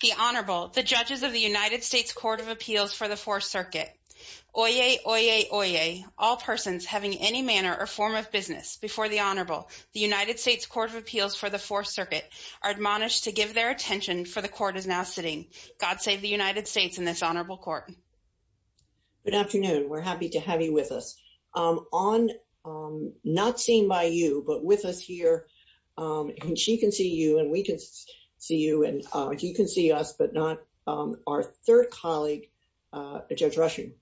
The Honorable, the Judges of the United States Court of Appeals for the Fourth Circuit. Oyez, oyez, oyez, all persons having any manner or form of business before the Honorable, the United States Court of Appeals for the Fourth Circuit are admonished to give their attention for the Court is now sitting. God save the United States and this Honorable Court. Good afternoon. We're happy to have you with us. Not seen by you but with us here and she can see you and we can see you and you can see us but not our third colleague, Judge Rushing.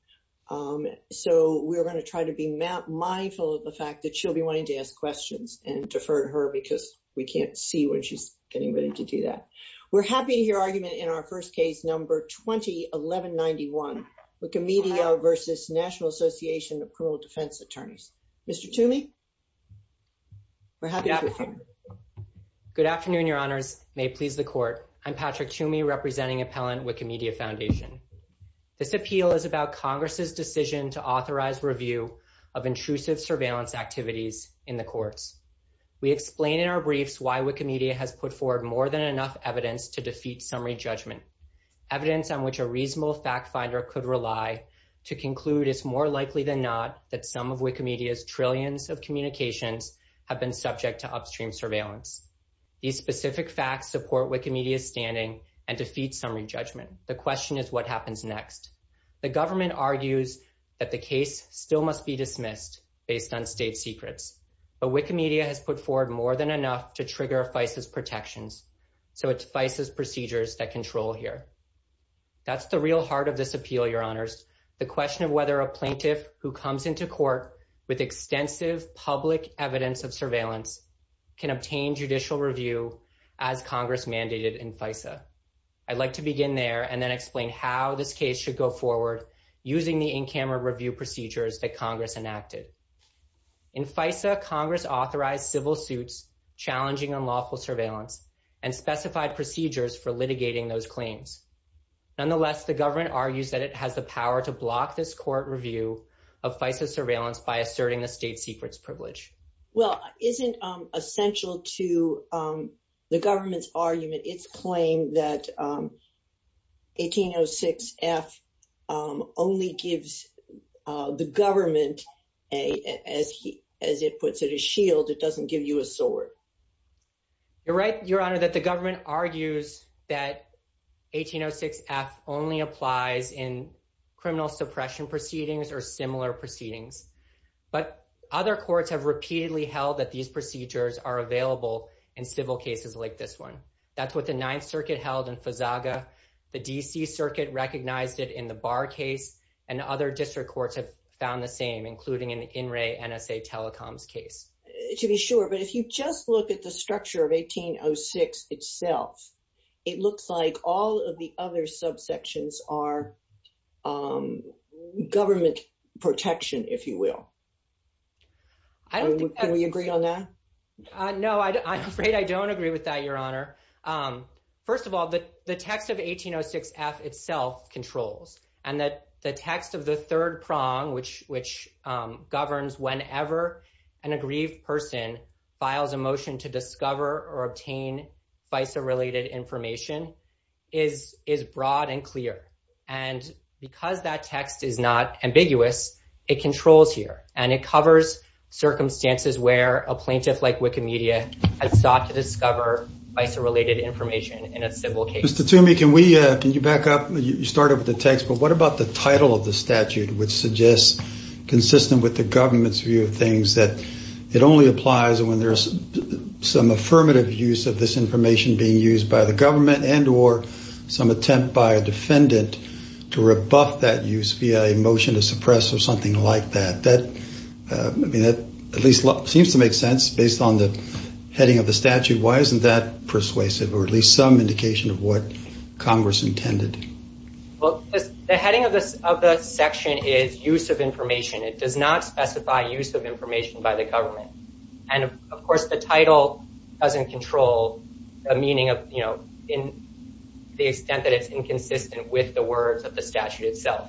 So we're going to try to be mindful of the fact that she'll be wanting to ask questions and defer to her because we can't see when she's getting ready to do that. We're happy to hear argument in our first case number 20-1191 Wikimedia v. National Association of Good afternoon, Your Honors. May it please the Court. I'm Patrick Toomey representing Appellant Wikimedia Foundation. This appeal is about Congress's decision to authorize review of intrusive surveillance activities in the courts. We explain in our briefs why Wikimedia has put forward more than enough evidence to defeat summary judgment. Evidence on which a reasonable fact finder could rely to conclude is more likely than not that some of Wikimedia's upstream surveillance. These specific facts support Wikimedia's standing and defeat summary judgment. The question is what happens next. The government argues that the case still must be dismissed based on state secrets. But Wikimedia has put forward more than enough to trigger FISA's protections. So it's FISA's procedures that control here. That's the real heart of this appeal, Your Honors. The question of whether a plaintiff who comes into court with extensive public evidence of surveillance can obtain judicial review as Congress mandated in FISA. I'd like to begin there and then explain how this case should go forward using the in-camera review procedures that Congress enacted. In FISA, Congress authorized civil suits challenging unlawful surveillance and specified procedures for litigating those claims. Nonetheless, the government argues that it has the power to block this court review of FISA surveillance by asserting the state secrets privilege. Well, isn't essential to the government's argument its claim that 1806 F only gives the government, as he as it puts it, a shield. It doesn't give you a sword. You're right, Your Honor, that the government argues that 1806 F only applies in criminal suppression proceedings or similar proceedings. But other courts have repeatedly held that these procedures are available in civil cases like this one. That's what the Ninth Circuit held in FISAGA. The D.C. Circuit recognized it in the Barr case, and other district courts have found the same, including an in-ray NSA telecoms case. To be sure, but if you just look at the government protection, if you will. Can we agree on that? No, I'm afraid I don't agree with that, Your Honor. First of all, the text of 1806 F itself controls, and that the text of the third prong, which governs whenever an aggrieved person files a motion to discover or obtain FISA-related information, is broad and clear. And because that is not ambiguous, it controls here. And it covers circumstances where a plaintiff like Wikimedia has sought to discover FISA-related information in a civil case. Mr. Toomey, can you back up? You started with the text, but what about the title of the statute, which suggests, consistent with the government's view of things, that it only applies when there's some affirmative use of this information being used by the government and or some attempt by a motion to suppress or something like that? That at least seems to make sense based on the heading of the statute. Why isn't that persuasive or at least some indication of what Congress intended? Well, the heading of the section is use of information. It does not specify use of information by the government. And of course, the title doesn't control the meaning of, you know, in the extent that it's inconsistent with the words of the statute itself.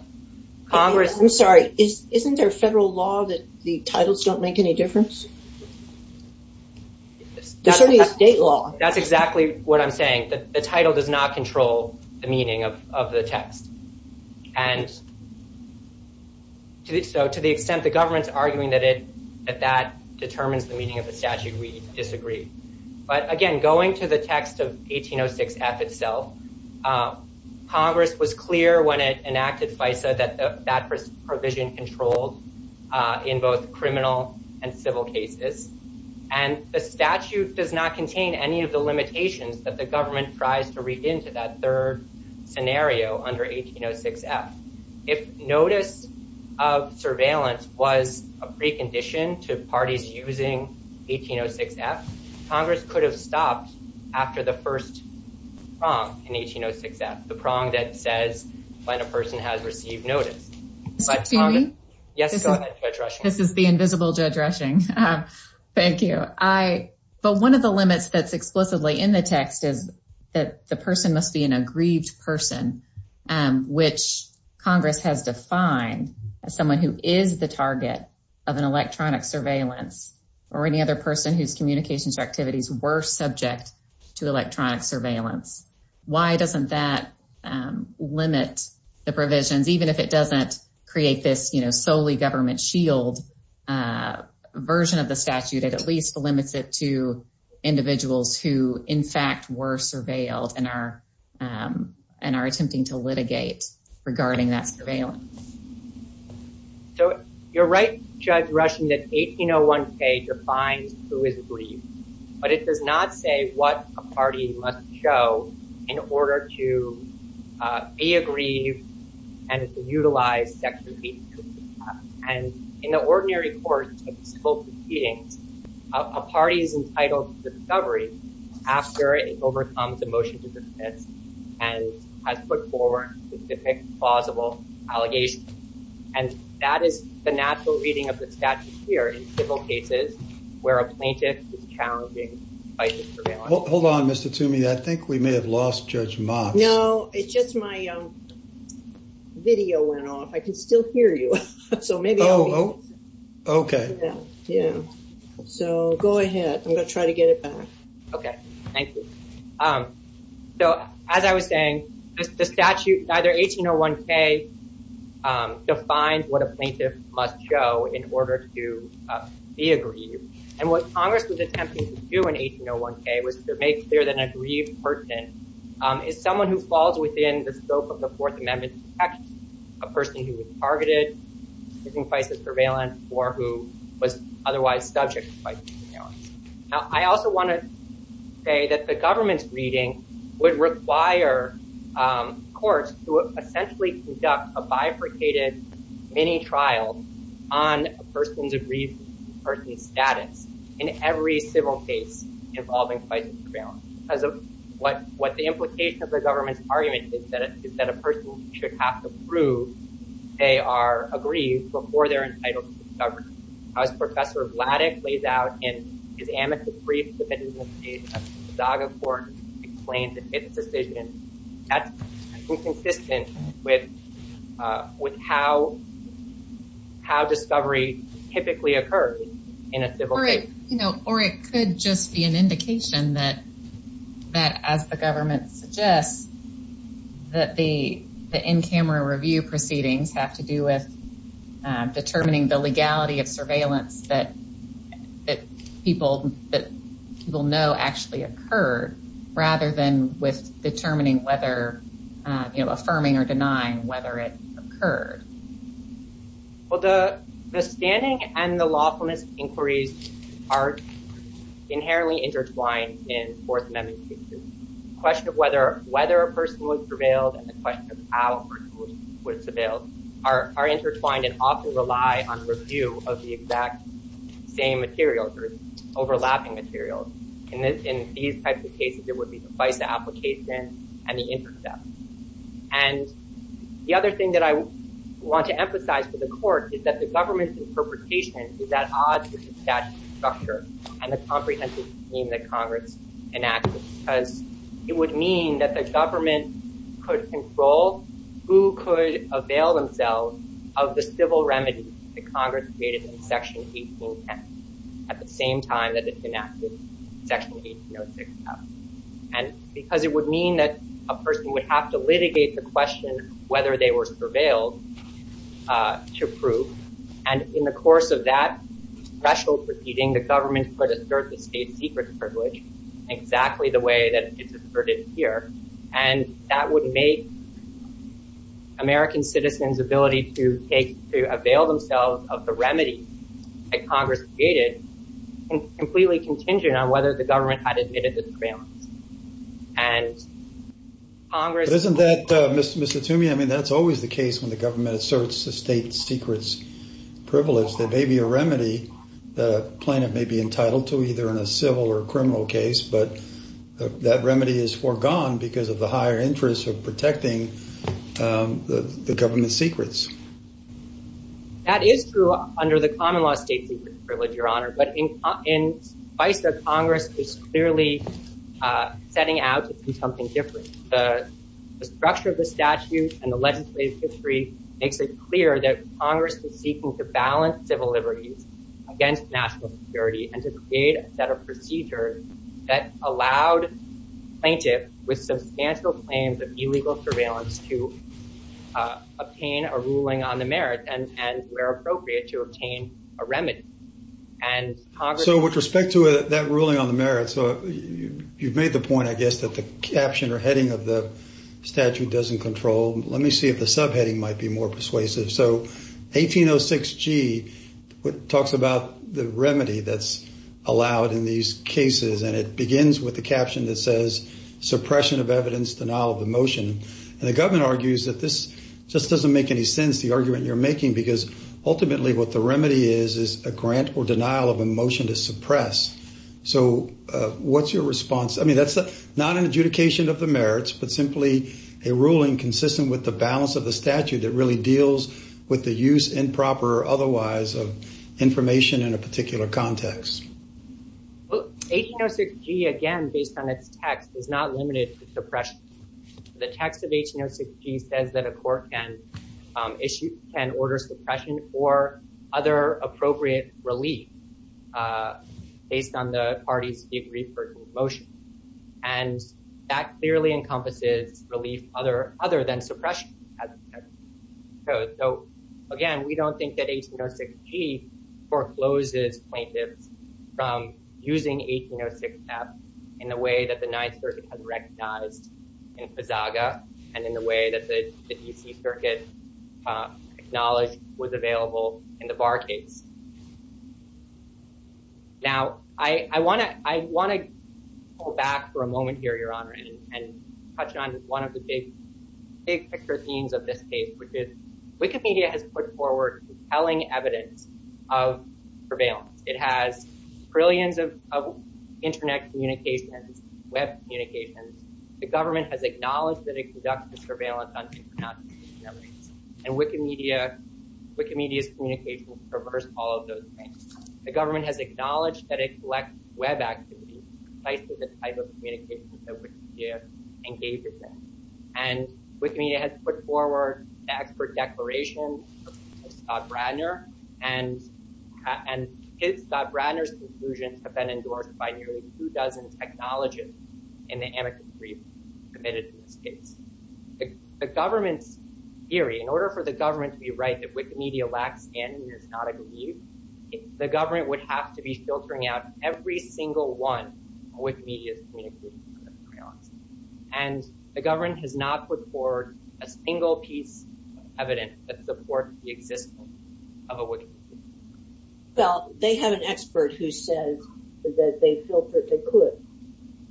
Congress... I'm sorry, isn't there a federal law that the titles don't make any difference? There's only a state law. That's exactly what I'm saying. The title does not control the meaning of the text. And so to the extent the government's arguing that that determines the meaning of the statute, we disagree. But again, going to the text of 1806 F itself, Congress was clear when it enacted FISA that that provision controlled in both criminal and civil cases. And the statute does not contain any of the limitations that the government tries to read into that third scenario under 1806 F. If notice of surveillance was a precondition to parties using 1806 F, Congress could have stopped after the first prong in 1806 F, the prong that says when a person has received notice. This is the invisible Judge Rushing. Thank you. But one of the limits that's explicitly in the has defined as someone who is the target of an electronic surveillance or any other person whose communications or activities were subject to electronic surveillance. Why doesn't that limit the provisions, even if it doesn't create this solely government shield version of the statute, it at least limits it to individuals who, in fact, were surveilled and are attempting to litigate regarding that surveillance. So you're right, Judge Rushing, that 1801 K defines who is aggrieved, but it does not say what a party must show in order to be aggrieved and to utilize Section 82. And in the ordinary court of civil proceedings, a party is entitled to discovery after it overcomes a motion to dismiss and has put forward specific plausible allegations. And that is the natural reading of the statute here in civil cases where a plaintiff is challenging by surveillance. Hold on, Mr. Toomey. I think we may have lost Judge Mott. No, it's just my video went off. I can still hear you. So maybe I'll be able to hear you. Okay. Yeah. So go ahead. I'm going to try to get it back. Okay. Thank you. So as I was saying, the statute, either 1801 K defines what a plaintiff must show in order to be aggrieved. And what Congress was attempting to do in 1801 K was to make clear that an aggrieved person is someone who falls within the scope of the Fourth Amendment protection, a person who was targeted in crisis surveillance or who was otherwise subject to crisis surveillance. Now, I also want to say that the government's reading would require courts to essentially conduct a bifurcated mini trial on a person's aggrieved person's status in every civil case involving crisis surveillance. Because of what the implication of the government's argument is that a person should have to prove they are aggrieved before they're entitled to discovery. As Professor Vladek lays out in his amicus brief that is in the State of Chicago Court, the plaintiff makes a decision. That's inconsistent with how discovery typically occurs in a civil case. Or it could just be an indication that as the government suggests that the in-camera review proceedings have to do with determining the legality of surveillance that people know actually occurred rather than with determining whether, you know, affirming or denying whether it occurred. Well, the standing and the lawfulness inquiries are inherently intertwined in Fourth Amendment cases. The question of whether a person was prevailed and the question of how a person was prevailed are intertwined and often rely on review of the exact same material or overlapping materials. In these types of cases, it would be the FISA application and the intercept. And the other thing that I want to emphasize for the court is that the government's interpretation is at odds with the statute structure and the comprehensive scheme that Congress enacted. Because it would mean that the government could control who could avail themselves of the Section 1806 Act. And because it would mean that a person would have to litigate the question whether they were surveilled to prove. And in the course of that special proceeding, the government could assert the state secret privilege exactly the way that it's asserted here. And that would make American citizens' ability to take, to avail themselves of the remedy that Congress created completely contingent on whether the government had admitted the prevails. And Congress... But isn't that, Mr. Toomey, I mean, that's always the case when the government asserts the state secrets privilege. There may be a remedy that a plaintiff may be entitled to either in a civil or criminal case, but that remedy is foregone because of the higher interest of protecting the government secrets. That is true under the common law state secret privilege, Your Honor. But in the advice that Congress is clearly setting out to do something different. The structure of the statute and the legislative history makes it clear that Congress is seeking to balance civil liberties against national security and to create a set of procedures that allowed plaintiffs with substantial claims of illegal surveillance to obtain a ruling on the merit and where appropriate to obtain a remedy. And Congress... So with respect to that ruling on the merit, so you've made the point, I guess, that the caption or heading of the statute doesn't control. Let me see if the subheading might be more persuasive. So 1806G talks about the remedy that's allowed in these cases. And it And the government argues that this just doesn't make any sense, the argument you're making, because ultimately what the remedy is, is a grant or denial of a motion to suppress. So what's your response? I mean, that's not an adjudication of the merits, but simply a ruling consistent with the balance of the statute that really deals with the use, improper or otherwise, of information in a particular context. Well, 1806G, again, based on its text, is not limited to suppression. The text of 1806G says that a court can issue, can order suppression or other appropriate relief based on the party's degree for the motion. And that clearly encompasses relief other than suppression. So, again, we don't think that 1806G forecloses plaintiffs from using 1806F in the way that the Ninth Circuit has recognized in Pisaga, and in the way that the D.C. Circuit acknowledged was available in the Barr case. Now, I want to go back for a moment here, Your Honor, and touch on one of the big picture themes of this case, which is Wikimedia has put forward compelling evidence of surveillance. It has trillions of internet communications, web communications. The government has acknowledged that it conducts the surveillance on technology and Wikimedia's communications traverse all of those things. The government has acknowledged that it collects web activity, precisely the type of communications that Wikimedia engages in. And Wikimedia has put forward the expert declaration of Scott Bradner, and Scott Bradner's conclusions have been endorsed by nearly two dozen technologists in the amicably committed to this case. The government's theory, in order for the government to be right that Wikimedia lacks in is not agreed, the government would have to be filtering out every single one of Wikimedia's communications surveillance. And the government has not put forward a single piece of evidence that supports the existence of a Wikimedia. Well, they have an expert who says that they could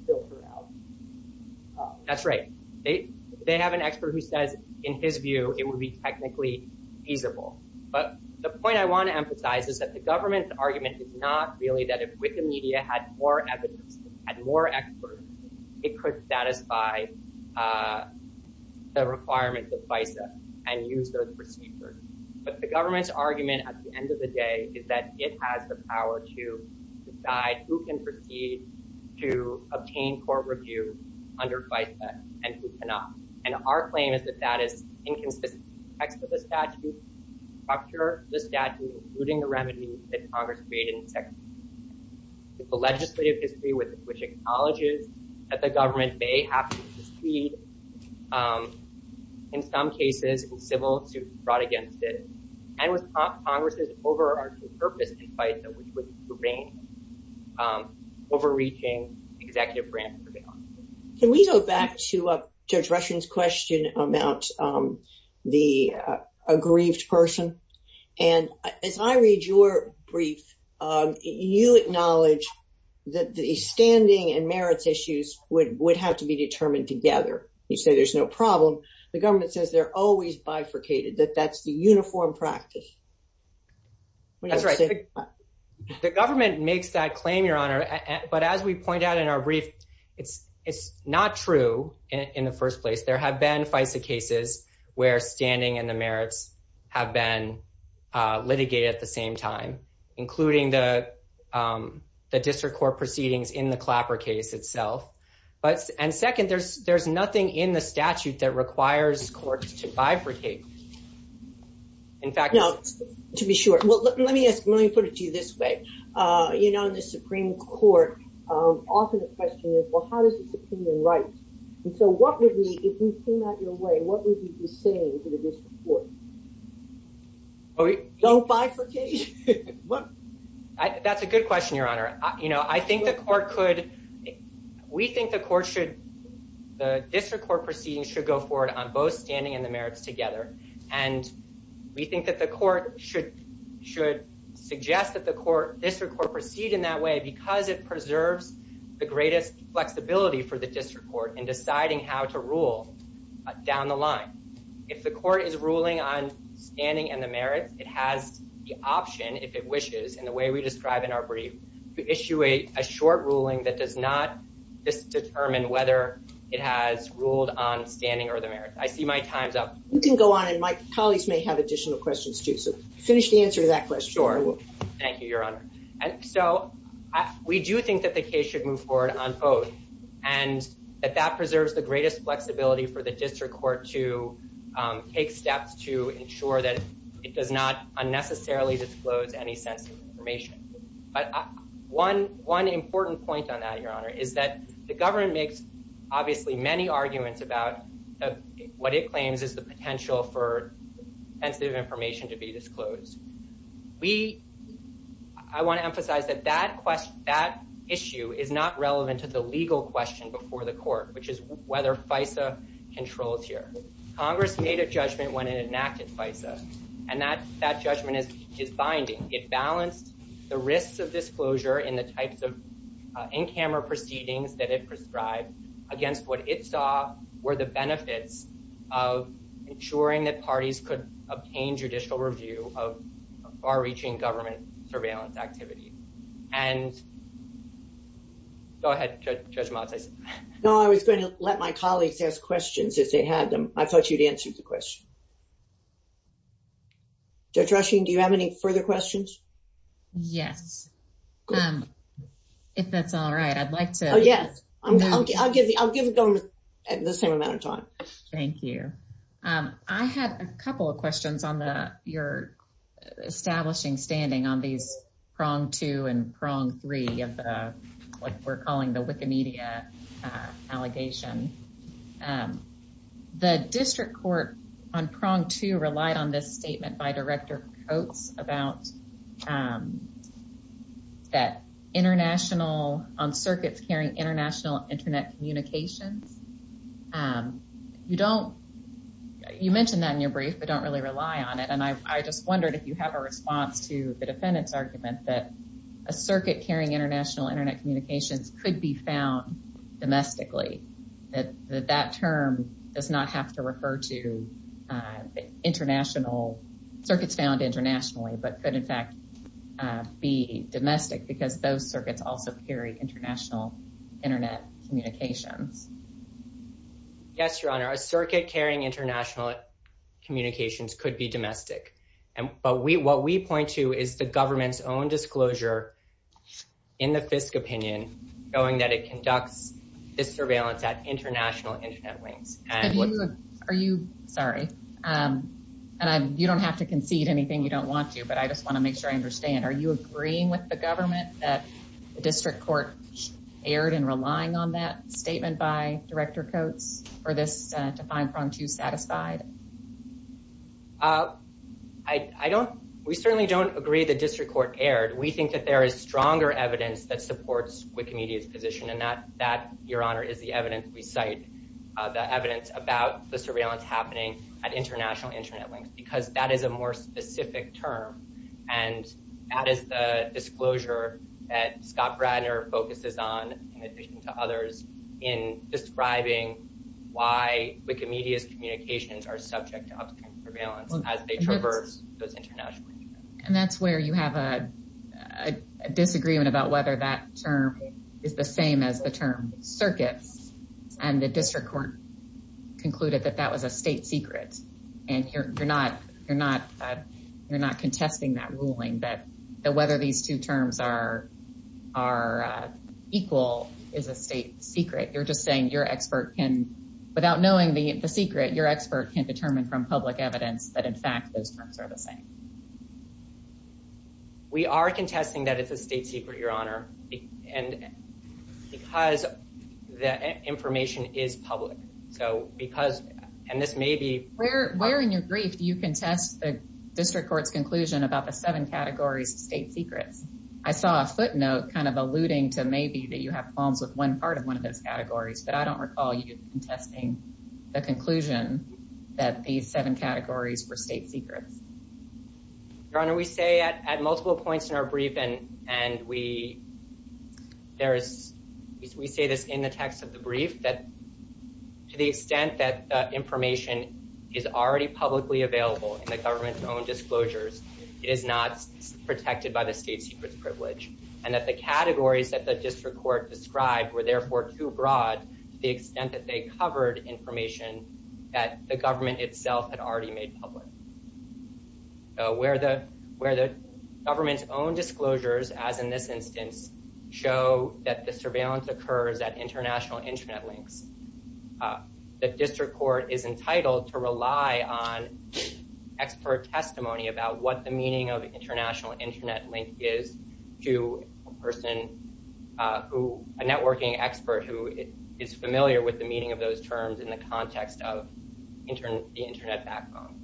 filter out. That's right. They have an expert who says, in his view, it would be technically feasible. But the point I want to emphasize is that the government's argument is not really that if Wikimedia had more evidence, had more experts, it could satisfy the requirements of FISA and use those procedures. But the government's argument at the end of the day is that it has the power to decide who can proceed to obtain court review under FISA and who cannot. And our claim is that that is inconsistent with the statute structure, the statute, including the remedies that Congress created in the legislative history with which it acknowledges that the government may have to proceed, in some cases, in civil suits brought against it. And with Congress's overarching purpose in FISA, which was to rein in overreaching executive branch surveillance. Can we go back to Judge Rushing's question about the aggrieved person? And as I read your brief, you acknowledge that the standing and merits issues would have to be determined together. You say there's no problem. The government says they're always bifurcated, that that's the uniform practice. That's right. The government makes that claim, Your Honor. But as we point out in our brief, it's not true in the first place. There have been FISA cases where standing and the merits have been litigated at the same time, including the district court proceedings in the Clapper case itself. And second, there's nothing in the statute that requires courts to bifurcate. In fact- No, to be sure. Let me put it to you this way. In the Supreme Court, often the question is, well, how does the Supreme Court write? And so, if you came out of your way, what would you be saying to the district court? Don't bifurcate? That's a good question, Your Honor. I think the court could, we think the court should, the district court proceedings should go forward on both standing and the merits together. And we think that the court should suggest that the district court proceed in that way because it preserves the greatest flexibility for the district court in deciding how to rule down the line. If the court is ruling on standing and the merits, it has the option, if it wishes, in the way we describe in our brief, to issue a short ruling that does not just determine whether it has ruled on standing or the merits. I see my time's up. You can go on and my colleagues may have additional questions too. So, finish the answer to that question. Sure, I will. Thank you, Your Honor. And so, we do think that the case should move forward on both and that that preserves the greatest flexibility for the district court to take steps to ensure that it does not unnecessarily disclose any sensitive information. But one important point on that, Your Honor, is that the government makes obviously many arguments about what it claims is the potential for sensitive information to be disclosed. We, I want to emphasize that that issue is not relevant to the legal question before the court, which is whether FISA controls here. Congress made a judgment when it enacted FISA and that that judgment is binding. It balanced the risks of disclosure in the types of in-camera proceedings that it prescribed against what it saw were the benefits of ensuring that parties could obtain judicial review of far-reaching government surveillance activity. And go ahead, Judge Malatza. No, I was going to let my colleagues ask questions as they had them. I thought you'd answered the question. Judge Rushing, do you have any further questions? Yes. If that's all right, I'd like to... Oh, yes. I'll give it to them at the same amount of time. Thank you. I had a couple of questions on your establishing standing on these three of what we're calling the Wikimedia allegation. The district court on prong two relied on this statement by Director Coates about that international, on circuits carrying international internet communications. You don't, you mentioned that in your brief, but don't really rely on it. And I just wondered if you have a response to the defendant's argument that a circuit carrying international internet communications could be found domestically, that that term does not have to refer to international circuits found internationally, but could in fact be domestic because those circuits also carry international internet communications. Yes, Your Honor. A circuit carrying international communications could be domestic. But what we point to is the government's own disclosure in the FISC opinion, knowing that it conducts this surveillance at international internet links. Are you... Sorry. And you don't have to concede anything you don't want to, but I just want to make sure I understand. Are you agreeing with the government that the district court erred in relying on that statement by Director Coates for this to find prong two satisfied? I don't, we certainly don't agree the district court erred. We think that there is stronger evidence that supports Wikimedia's position and that, Your Honor, is the evidence we cite, the evidence about the surveillance happening at international internet links, because that is a more specific term. And that is the disclosure that Scott Bradner focuses on in addition to others in describing why Wikimedia's communications are subject to upstream surveillance as they international internet. And that's where you have a disagreement about whether that term is the same as the term circuits. And the district court concluded that that was a state secret. And you're not contesting that ruling that whether these two terms are equal is a state secret. You're just saying your expert can, without knowing the secret, your expert can determine from public evidence that in fact, those terms are the same. We are contesting that it's a state secret, Your Honor, and because the information is public. So because, and this may be where, where in your brief, you can test the district court's conclusion about the seven categories of state secrets. I saw a footnote kind of alluding to maybe that you have problems with one part of one of those categories, but I don't recall you contesting the conclusion that these seven categories were state secrets. Your Honor, we say at multiple points in our briefing, and we, there is, we say this in the text of the brief that to the extent that information is already publicly available in the government's own disclosures, it is not protected by the state secrets privilege. And that the categories that the district court described were therefore too broad to the extent that they covered information that the government itself had already made public. So where the, where the government's own disclosures, as in this instance, show that the surveillance occurs at international internet links, the district court is entitled to rely on expert testimony about what the meaning of international internet link is to a person who, a networking expert who is familiar with the meaning of those terms in the context of the internet backbone.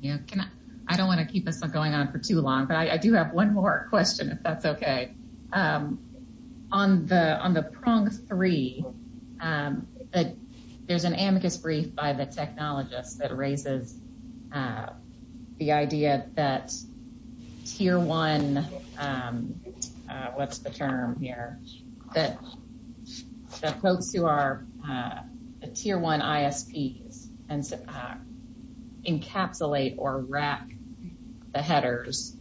Yeah. Can I, I don't want to keep this going on for too long, but I do have one more question if that's okay. On the, on the prong three, there's an amicus brief by the technologist that raises the idea that tier one, um, uh, what's the term here that the folks who are, uh, a tier one ISPs and encapsulate or wrap the headers.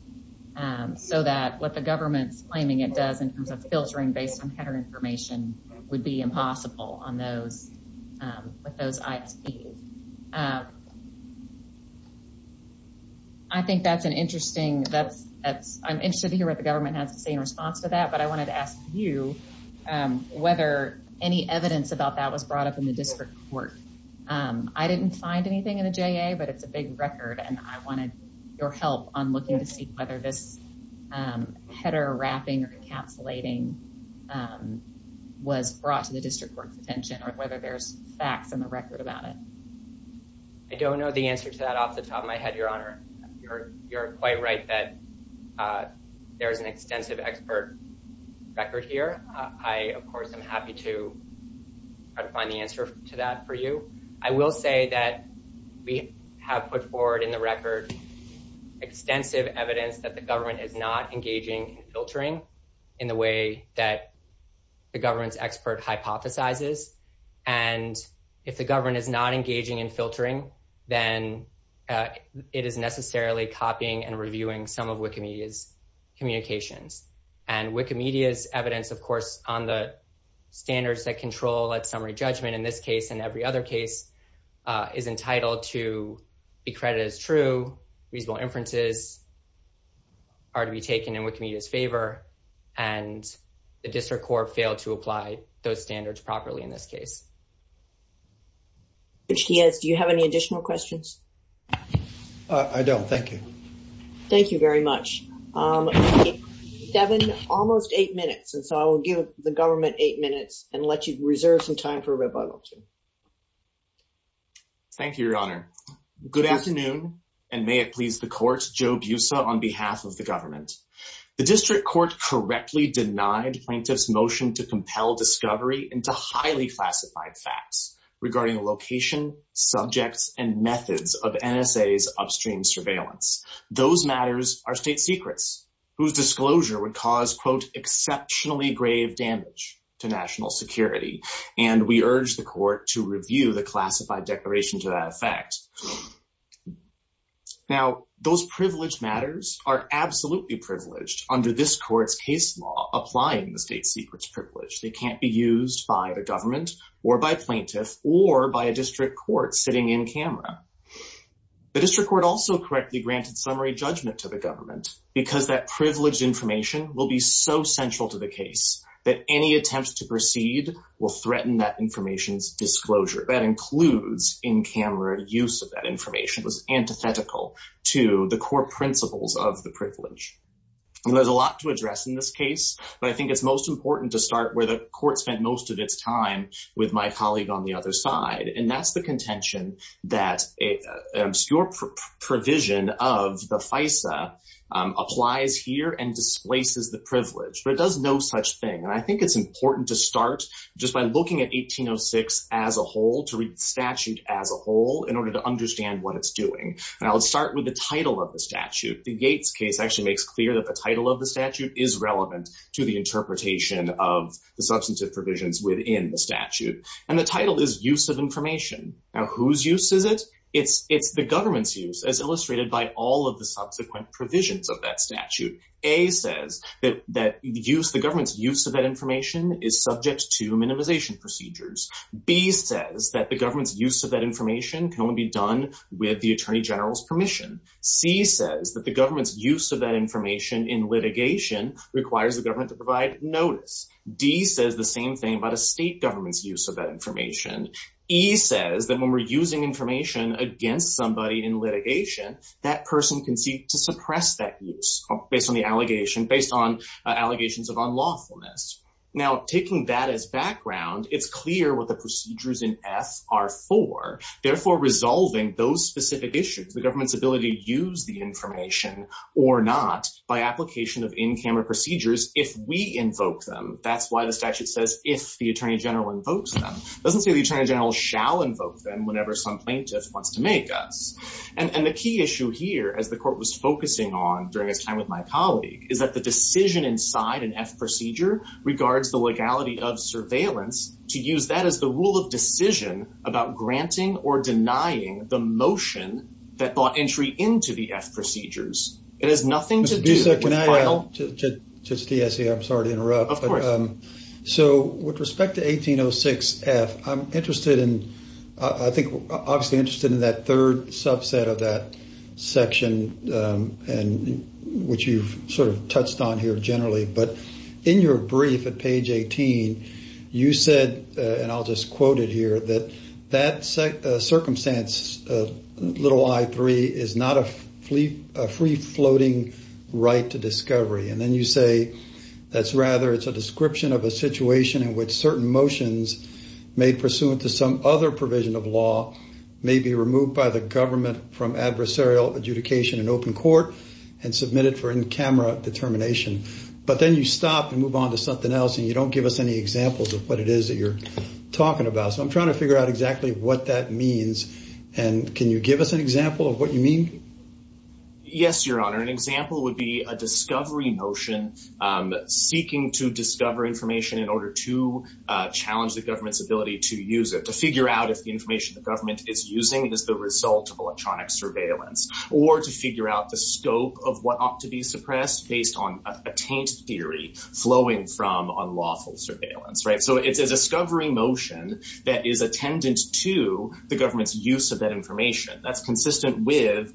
Um, so that what the government's claiming it does in terms of filtering based on header information would be impossible on those, um, with those ISPs. Um, I think that's an interesting, that's, that's, I'm interested to hear what the government has to say in response to that, but I wanted to ask you, um, whether any evidence about that was brought up in the district court. Um, I didn't find anything in the JA, but it's a big record and I wanted your help on looking to see whether this, um, header wrapping or encapsulating, um, was I don't know the answer to that off the top of my head, your honor. You're, you're quite right that, uh, there is an extensive expert record here. Uh, I, of course, I'm happy to try to find the answer to that for you. I will say that we have put forward in the record extensive evidence that the government is not engaging in filtering in the way that the government's expert hypothesizes. And if the government is not engaging in filtering, then, uh, it is necessarily copying and reviewing some of Wikimedia's communications and Wikimedia's evidence, of course, on the standards that control that summary judgment in this case, and every other case, uh, is entitled to be credited as true reasonable inferences are to be taken in Wikimedia's favor. And the district court failed to apply those standards properly in this case, which he has. Do you have any additional questions? Uh, I don't. Thank you. Thank you very much. Um, Devin, almost eight minutes. And so I will give the government eight minutes and let you reserve some time for rebuttal. Thank you, your honor. Good afternoon. And may it please the court Joe Busa on behalf of the discovery into highly classified facts regarding the location subjects and methods of NSA's upstream surveillance. Those matters are state secrets whose disclosure would cause quote, exceptionally grave damage to national security. And we urge the court to review the classified declaration to that effect. Now those privileged matters are absolutely privileged under this privilege. They can't be used by the government or by plaintiff or by a district court sitting in camera. The district court also correctly granted summary judgment to the government because that privileged information will be so central to the case that any attempts to proceed will threaten that information's disclosure. That includes in camera use of that information was antithetical to the core principles of the privilege. And there's a lot to address in this but I think it's most important to start where the court spent most of its time with my colleague on the other side. And that's the contention that obscure provision of the FISA applies here and displaces the privilege, but it does no such thing. And I think it's important to start just by looking at 1806 as a whole to read statute as a whole in order to understand what it's doing. And I'll start with the title of the statute. The Yates case actually makes clear that the title of the statute is not relevant to the interpretation of the substantive provisions within the statute. And the title is use of information. Now whose use is it? It's the government's use as illustrated by all of the subsequent provisions of that statute. A says that the government's use of that information is subject to minimization procedures. B says that the government's use of that information can only be done with the attorney general's permission. C says that the government to provide notice. D says the same thing about a state government's use of that information. E says that when we're using information against somebody in litigation, that person can seek to suppress that use based on the allegation, based on allegations of unlawfulness. Now taking that as background, it's clear what the procedures in F are for. Therefore resolving those specific issues, the government's ability to use the information or not by application of in-camera procedures if we invoke them. That's why the statute says if the attorney general invokes them. Doesn't say the attorney general shall invoke them whenever some plaintiff wants to make us. And the key issue here, as the court was focusing on during this time with my colleague, is that the decision inside an F procedure regards the legality of surveillance to use that as the rule of decision about granting or denying the motion that brought the entry into the F procedures. It has nothing to do with- Mr. Dusek, can I add to the essay? I'm sorry to interrupt. Of course. So with respect to 1806 F, I'm interested in, I think, obviously interested in that third subset of that section, which you've sort of touched on here generally. But in your brief at page 18, you said, and I'll just quote it here, that that circumstance, little I-3, is not a free-floating right to discovery. And then you say that's rather it's a description of a situation in which certain motions made pursuant to some other provision of law may be removed by the government from adversarial adjudication in open court and submitted for camera determination. But then you stop and move on to something else and you don't give us any examples of what it is that you're talking about. So I'm trying to figure out exactly what that means. And can you give us an example of what you mean? Yes, Your Honor. An example would be a discovery motion seeking to discover information in order to challenge the government's ability to use it, to figure out if the information the government is using is the result of electronic surveillance, or to figure out the scope of what ought to be suppressed based on a taint theory flowing from unlawful surveillance. So it's a discovery motion that is attendant to the government's use of that information. That's consistent with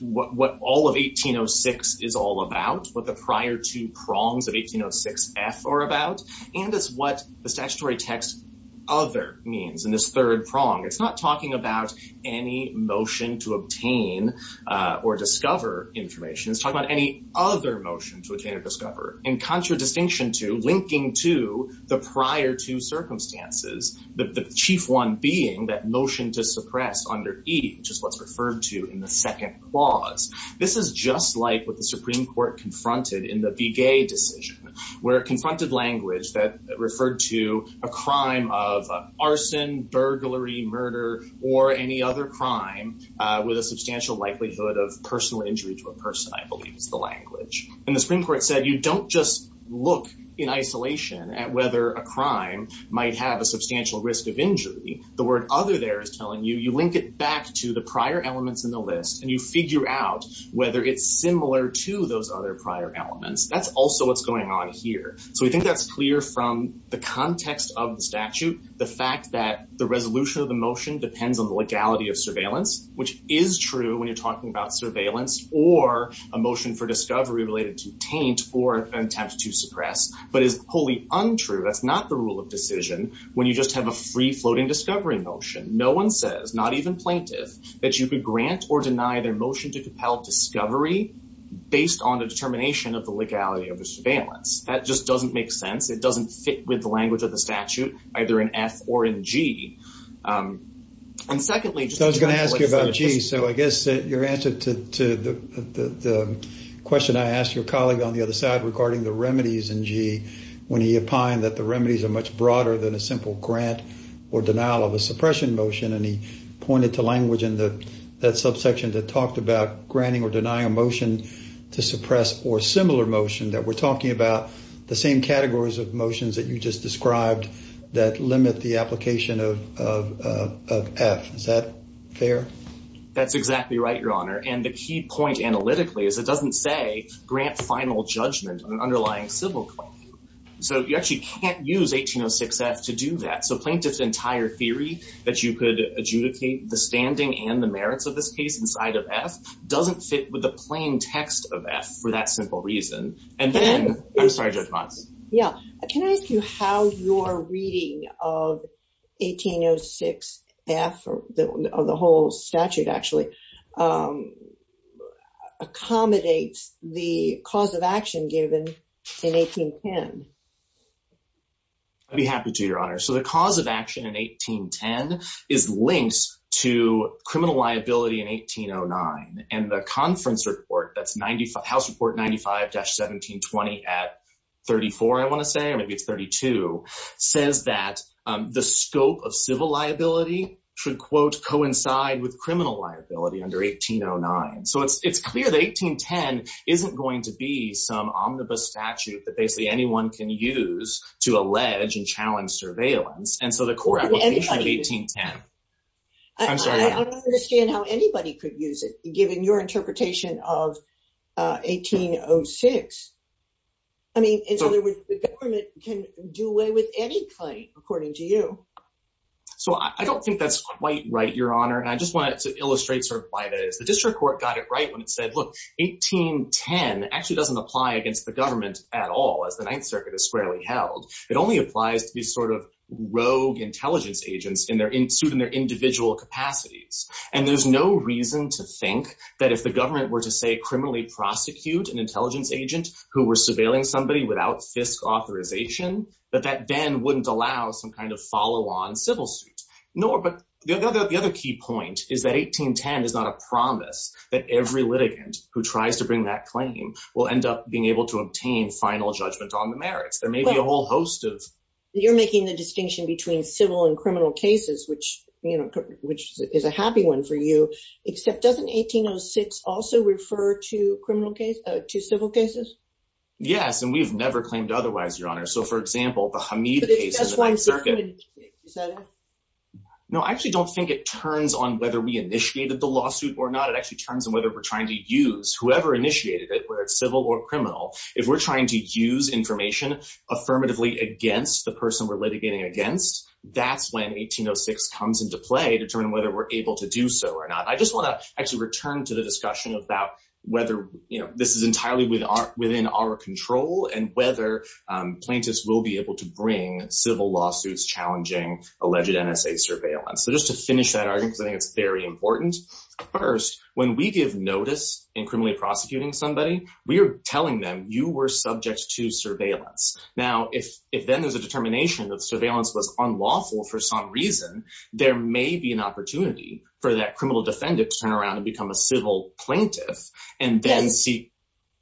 what all of 1806 is all about, what the prior two prongs of 1806 F are about, and it's what the statutory text other means in this third prong. It's not talking about any motion to obtain or discover information. It's talking about any other motion to obtain or discover, in contradistinction to linking to the prior two circumstances, the chief one being that motion to suppress under E, which is what's referred to in the second clause. This is just like what the Supreme Court confronted in the Biguet decision, where it confronted language that referred to a crime of arson, burglary, murder, or any other crime with a substantial likelihood of personal injury to a person, I believe is the language. And the Supreme Court said you don't just look in isolation at whether a crime might have a substantial risk of injury. The word other there is telling you you link it back to the prior elements in the list, and you figure out whether it's similar to those other prior elements. That's also what's going on here. So we think that's from the context of the statute, the fact that the resolution of the motion depends on the legality of surveillance, which is true when you're talking about surveillance or a motion for discovery related to taint or an attempt to suppress, but is wholly untrue. That's not the rule of decision when you just have a free floating discovery motion. No one says, not even plaintiff, that you could grant or deny their motion to compel discovery based on the determination of the language of the statute, either in F or in G. I was going to ask you about G. So I guess your answer to the question I asked your colleague on the other side regarding the remedies in G when he opined that the remedies are much broader than a simple grant or denial of a suppression motion, and he pointed to language in that subsection that talked about granting or denying a motion to suppress or similar motion that we're talking about the same categories of motions that you just described that limit the application of F. Is that fair? That's exactly right, your honor. And the key point analytically is it doesn't say grant final judgment on an underlying civil claim. So you actually can't use 1806 F to do that. So plaintiff's entire theory that you could claim text of F for that simple reason, and then... I'm sorry, Judge Mons. Yeah, can I ask you how your reading of 1806 F, or the whole statute actually, accommodates the cause of action given in 1810? I'd be happy to, your honor. So the cause of action in 1810 is linked to criminal liability in 1809, and the conference report, that's house report 95-1720 at 34, I want to say, or maybe it's 32, says that the scope of civil liability should, quote, coincide with criminal liability under 1809. So it's clear that 1810 isn't going to be some omnibus statute that basically anyone can use to allege and challenge surveillance, and so the core application of 1810... I don't understand how anybody could use it, given your interpretation of 1806. I mean, in other words, the government can do away with any claim, according to you. So I don't think that's quite right, your honor, and I just wanted to illustrate sort of why that is. The district court got it right when it said, look, 1810 actually doesn't apply against the government at all, as the Ninth Circuit is squarely held. It only applies to these sort of rogue intelligence agents in their... in suit in their individual capacities, and there's no reason to think that if the government were to, say, criminally prosecute an intelligence agent who were surveilling somebody without FISC authorization, that that then wouldn't allow some kind of follow-on civil suit. No, but the other key point is that 1810 is not a promise that every litigant who tries to bring that claim will end up being able to obtain final judgment on the merits. There may be a whole host of... You're making the distinction between civil and criminal cases, which, you know, which is a happy one for you, except doesn't 1806 also refer to criminal case... to civil cases? Yes, and we've never claimed otherwise, your honor. So, for example, the Hamid case... No, I actually don't think it turns on whether we initiated the lawsuit or not. It actually turns on whether we're trying to use... whoever initiated it, whether it's civil or criminal, if we're trying to use information affirmatively against the person we're litigating against, that's when 1806 comes into play to determine whether we're able to do so or not. I just want to actually return to the discussion about whether, you know, this is entirely within our control and whether plaintiffs will be able to bring civil lawsuits challenging alleged NSA surveillance. So, just to finish that argument, because I think it's very important. First, when we give notice in criminally prosecuting somebody, we are telling them you were subject to surveillance. Now, if then there's a determination that surveillance was unlawful for some reason, there may be an opportunity for that criminal defendant to turn around and become a civil plaintiff and then see...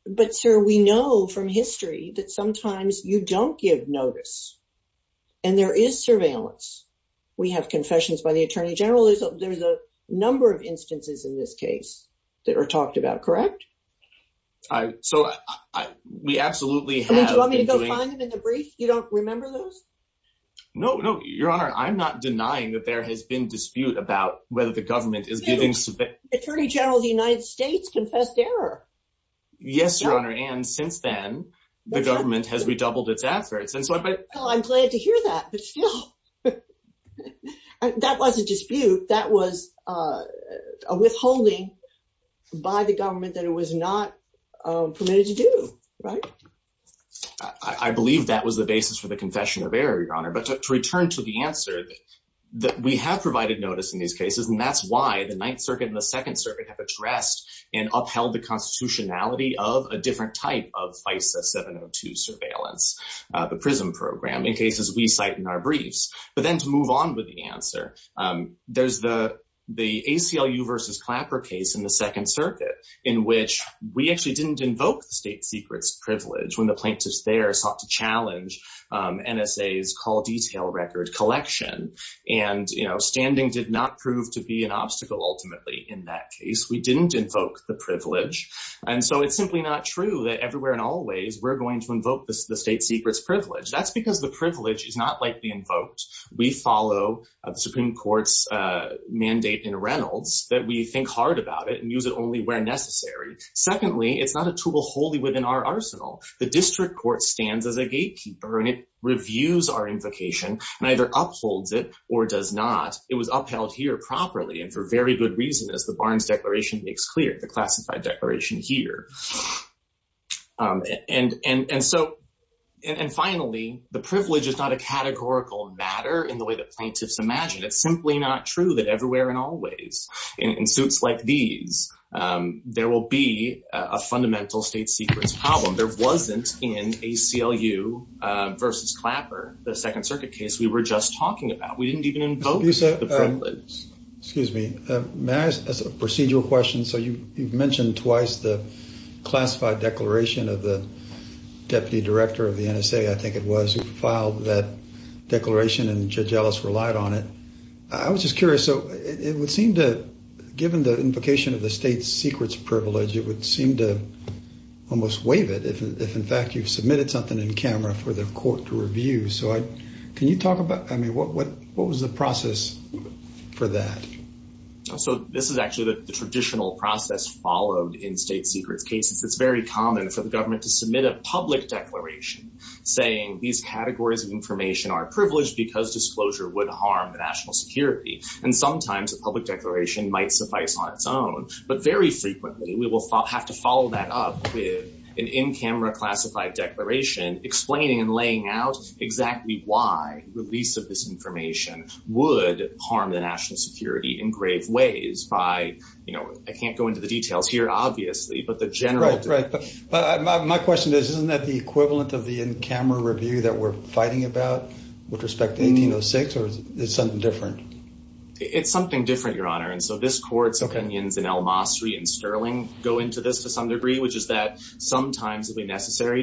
But, sir, we know from history that sometimes you don't give notice and there is surveillance. We have confessions by the attorney general. There's a number of instances in this case that are talked about, correct? So, we absolutely have... Do you want me to go find them in the brief? You don't remember those? No, no, your honor. I'm not denying that there has been dispute about whether the government is giving... Attorney General of the United States confessed error. Yes, your honor. And since then, the government has redoubled its efforts. Well, I'm glad to hear that. But still, that was a dispute. That was a withholding by the government that it was not permitted to do, right? I believe that was the basis for the confession of error, your honor. But to return to the answer, we have provided notice in these cases and that's why the Ninth Circuit and the Second Circuit have addressed and upheld the constitutionality of a different type of FISA 702 surveillance, the PRISM program, in cases we cite in our briefs. But then to move on with the answer, there's the ACLU versus Clapper case in the Second Circuit, in which we actually didn't invoke the state secrets privilege when the plaintiffs there sought to challenge NSA's call detail record collection. And standing did not prove to be an obstacle, ultimately, in that case. We didn't invoke the privilege. And so, it's simply not true that everywhere and always, we're going to invoke the state secrets privilege. That's because the privilege is not likely invoked. We follow the Supreme Court's mandate in Reynolds that we think hard about it and use it only where necessary. Secondly, it's not a tool wholly within our arsenal. The district court stands as a gatekeeper and it reviews our invocation and either upholds it or does not. It was upheld here properly and for very good reason, as the Barnes Declaration makes the classified declaration here. And finally, the privilege is not a categorical matter in the way the plaintiffs imagine. It's simply not true that everywhere and always, in suits like these, there will be a fundamental state secrets problem. There wasn't in ACLU versus Clapper, the Second Circuit case, we were just talking about. We didn't even invoke the privilege. Excuse me. May I ask a procedural question? So, you've mentioned twice the classified declaration of the deputy director of the NSA, I think it was, who filed that declaration and Judge Ellis relied on it. I was just curious. So, it would seem to, given the invocation of the state secrets privilege, it would seem to almost waive it if, in fact, you've submitted something in camera for the court to review. So, can you talk about, I mean, what was the process for that? So, this is actually the traditional process followed in state secrets cases. It's very common for the government to submit a public declaration saying these categories of information are privileged because disclosure would harm the national security. And sometimes a public declaration might suffice on its own. But very frequently, we will have to follow that up with an in-camera classified declaration explaining and laying out exactly why release of this information would harm the national security in grave ways by, you know, I can't go into the details here, obviously, but the general... Right, right. But my question is, isn't that the equivalent of the in-camera review that we're fighting about with respect to 1806, or is it something different? It's something different, Your Honor. And so, this court's necessary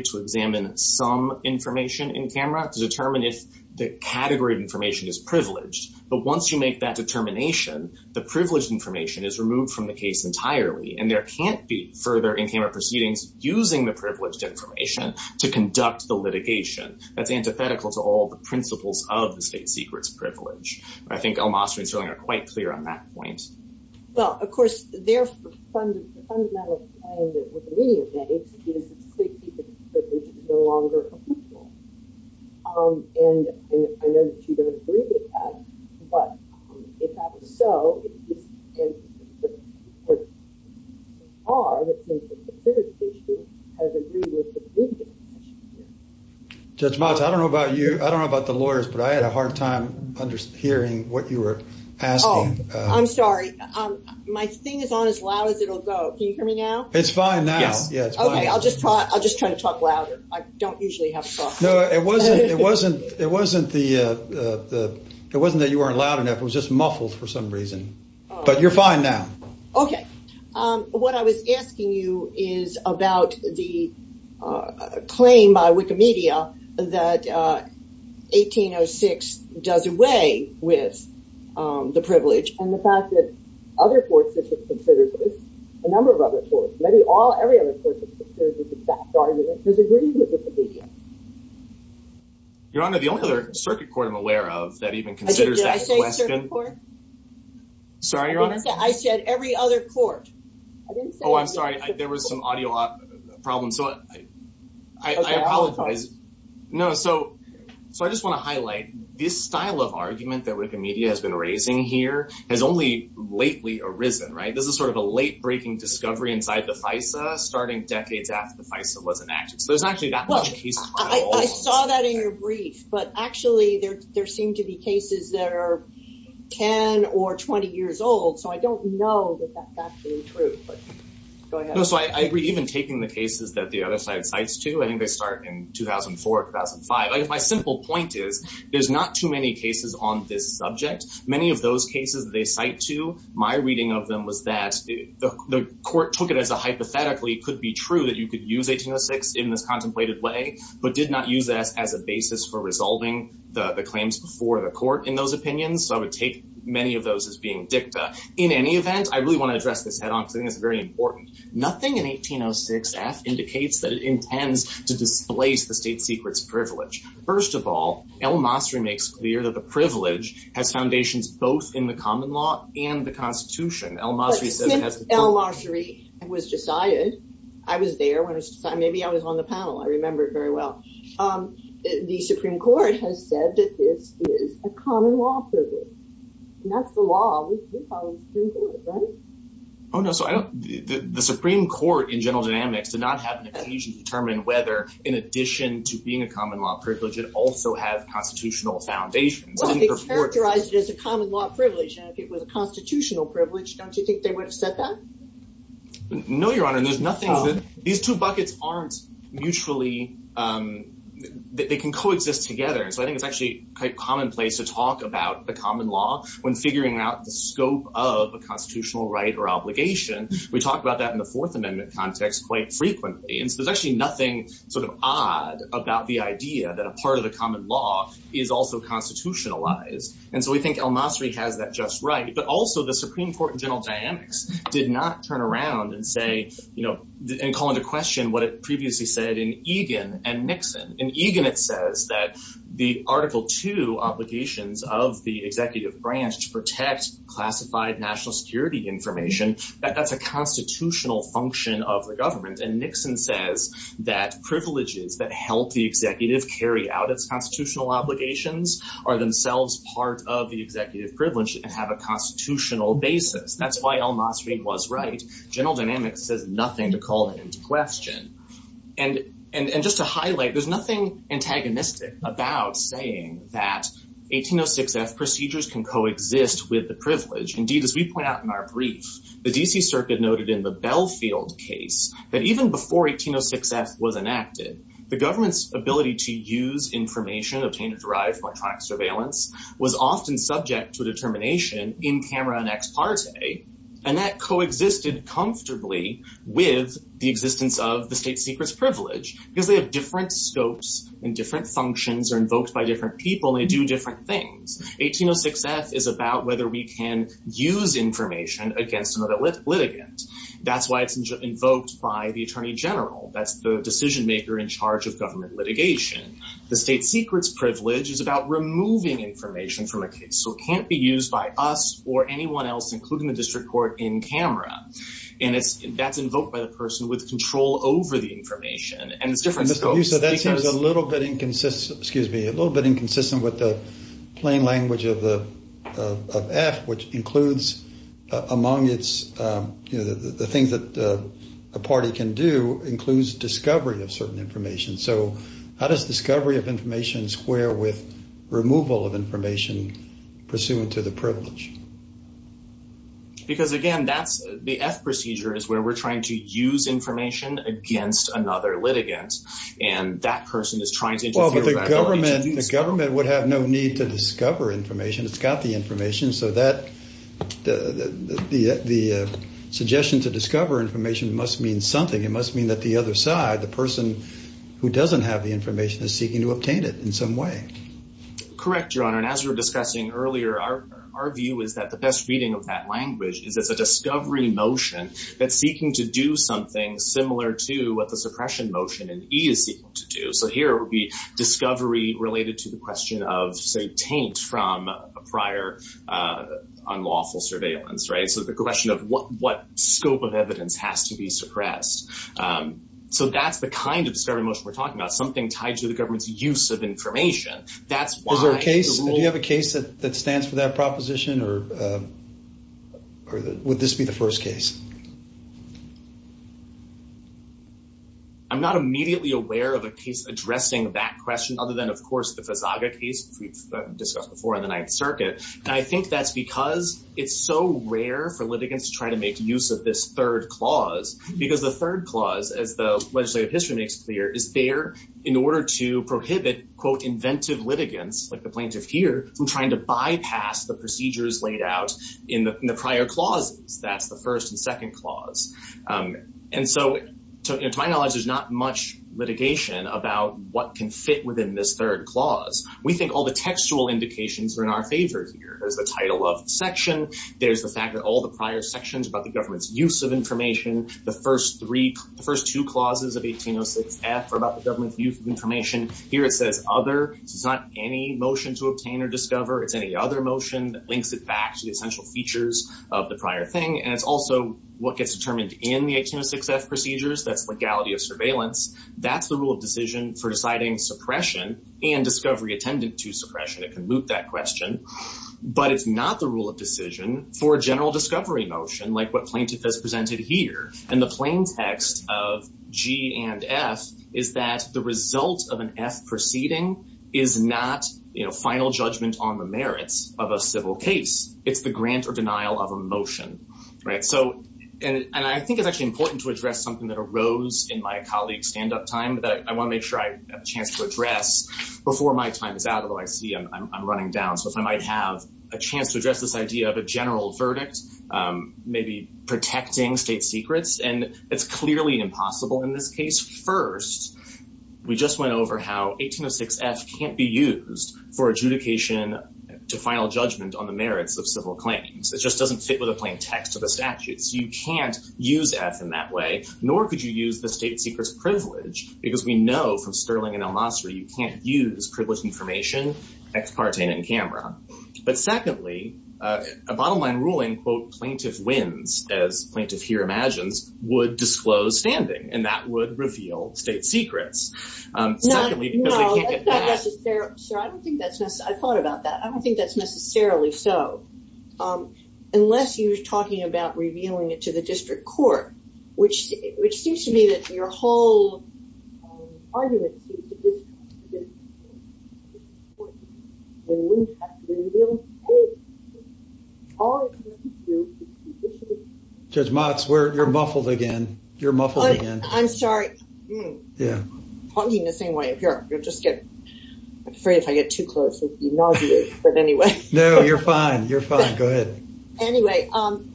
to examine some information in camera to determine if the category of information is privileged. But once you make that determination, the privileged information is removed from the case entirely, and there can't be further in-camera proceedings using the privileged information to conduct the litigation. That's antithetical to all the principles of the state secrets privilege. I think Elmas and Sterling are quite clear on that point. Well, of course, their fundamental claim with the meaning of that is that the state secret privilege is no longer official. And I know that you don't agree with that, but if that is so, the court, in the case of the privileged issue, has agreed with the privileged information. Judge Motz, I don't know about you, I don't know about the lawyers, but I had a hard time hearing what you were asking. Oh, I'm sorry. My thing is on as loud as it'll go. Can you hear me now? It's fine now. Yes. Okay. I'll just try to talk louder. I don't usually have a problem. No, it wasn't that you weren't loud enough, it was just muffled for some reason. But you're fine now. Okay. What I was asking you is about the claim by Wikimedia that 1806 does away with the privilege. And the fact that other courts have considered this, a number of other courts, maybe all, every other court has considered this exact argument, has agreed with Wikimedia. Your Honor, the only other circuit court I'm aware of that even has this argument. Sorry, Your Honor. I said every other court. Oh, I'm sorry. There was some audio problem. So I apologize. No, so I just want to highlight this style of argument that Wikimedia has been raising here has only lately arisen, right? This is sort of a late-breaking discovery inside the FISA, starting decades after the FISA was enacted. So there's actually that much case. I saw that in your brief. But actually, there seem to be cases that are 10 or 20 years old. So I don't know that that's been true. But go ahead. No, so I agree. Even taking the cases that the other side cites too, I think they start in 2004, 2005. My simple point is, there's not too many cases on this subject. Many of those cases they cite too, my reading of them was that the court took it as a hypothetically could be true that you could use 1806 in this but did not use that as a basis for resolving the claims before the court in those opinions. So I would take many of those as being dicta. In any event, I really want to address this head on because I think it's very important. Nothing in 1806 F indicates that it intends to displace the state secret's privilege. First of all, El-Masri makes clear that the privilege has foundations both in the common law and the Constitution. El-Masri said it has to- El-Masri was decided, I was there when it was decided, maybe I was on the panel, I remember it very well. The Supreme Court has said that this is a common law privilege. And that's the law of the Supreme Court, right? Oh no, so I don't- the Supreme Court in general dynamics did not have an occasion to determine whether in addition to being a common law privilege, it also has constitutional foundations. Well, it's characterized as a common law privilege if it was a constitutional privilege, don't you think they would have said that? No, Your Honor, there's nothing- these two buckets aren't mutually- they can coexist together. So I think it's actually quite commonplace to talk about the common law when figuring out the scope of a constitutional right or obligation. We talk about that in the Fourth Amendment context quite frequently. And so there's actually nothing sort of odd about the idea that a part of the common law is also constitutionalized. And so we think El-Masri has that just right. But also the Supreme Court in general dynamics did not turn around and say, you know, and call into question what it previously said in Egan and Nixon. In Egan, it says that the Article 2 obligations of the executive branch to protect classified national security information, that that's a constitutional function of the government. And Nixon says that privileges that help the executive carry out its constitutional obligations are themselves part of the executive privilege and have a constitutional basis. That's why El-Masri was right. General dynamics says nothing to call it into question. And just to highlight, there's nothing antagonistic about saying that 1806 F procedures can coexist with the privilege. Indeed, as we point out in our brief, the D.C. Circuit noted in the Belfield case that even before 1806 F was enacted, the government's ability to use information obtained and derived from electronic surveillance was often subject to a determination in camera and ex parte. And that coexisted comfortably with the existence of the state secrets privilege because they have different scopes and different functions are invoked by different people and they do different things. 1806 F is about whether we can use information against another litigant. That's why it's invoked by the attorney general. That's the decision maker in charge of government litigation. The state secrets privilege is about removing information from a case. So it can't be used by us or anyone else, including the district court in camera. And it's that's invoked by the person with control over the information. And it's different. So that seems a little bit inconsistent, excuse me, a little bit inconsistent with the plain language of the F, which includes among its, you know, the things that a party can do includes discovery of certain information. So how does discovery of information square with removal of information pursuant to the privilege? Because again, that's the F procedure is where we're trying to use information against another litigant. And that person is trying to- Well, the government would have no need to discover information. It's got the information. So the suggestion to discover information must mean something. It must mean that the other side, the person who doesn't have the information is seeking to obtain it in some way. Correct, your honor. And as we were discussing earlier, our view is that the best reading of that language is as a discovery motion that's seeking to do something similar to what the suppression motion in E is seeking to do. So here it would be discovery related to the question of, taint from a prior unlawful surveillance, right? So the question of what scope of evidence has to be suppressed. So that's the kind of discovery motion we're talking about, something tied to the government's use of information. That's why- Is there a case, do you have a case that stands for that proposition or would this be the first case? I'm not immediately aware of a case addressing that question other than, of course, the Fazaga case we've discussed before in the Ninth Circuit. And I think that's because it's so rare for litigants to try to make use of this third clause because the third clause, as the legislative history makes clear, is there in order to prohibit, quote, inventive litigants like the plaintiff here from trying to bypass the procedures laid out in the prior clauses. That's the first and second clause. And so to my knowledge, there's not much litigation about what can fit within this third clause. We think all the textual indications are in our favor here. There's the title of the section. There's the fact that all the prior sections about the government's use of information, the first two clauses of 1806F are about the government's use of information. Here it says other. It's not any motion to obtain or discover. It's any other motion that links it back to the essential features of the prior thing. And it's also what gets determined in the 1806F procedures. That's legality of surveillance. That's the rule of decision for deciding suppression and discovery attendant to suppression. It can loop that question. But it's not the rule of decision for a general discovery motion like what plaintiff has presented here. And the plain text of G and F is that the result of an F proceeding is not, you know, final judgment on the merits of a civil case. It's the grant or denial of a motion, right? So, and I think it's actually important to address something that arose in my colleague's stand-up time that I want to make sure I have a chance to address before my time is out, although I see I'm running down. So, if I might have a chance to address this idea of a general verdict, maybe protecting state secrets, and it's clearly impossible in this case. First, we just went over how 1806F can't be used for adjudication to final judgment on the merits of civil claims. It just doesn't fit with a plain text of the nor could you use the state secrets privilege, because we know from Sterling and El Mastri, you can't use privilege information, ex parte, and in camera. But secondly, a bottom line ruling, quote, plaintiff wins, as plaintiff here imagines, would disclose standing, and that would reveal state secrets. Secondly, because they can't get past... No, no, that's not necessarily... Sir, I don't think that's necessarily... I thought about that. I don't think that's necessarily so, unless you're talking about revealing it to the district court, which seems to me that your whole argument seems to be... Judge Motz, you're muffled again. You're muffled again. I'm sorry. Talking the same way. You'll just get... I'm afraid if I get too close, I'll be nauseous. But anyway... No, you're fine. You're fine. Go ahead. Anyway, I'm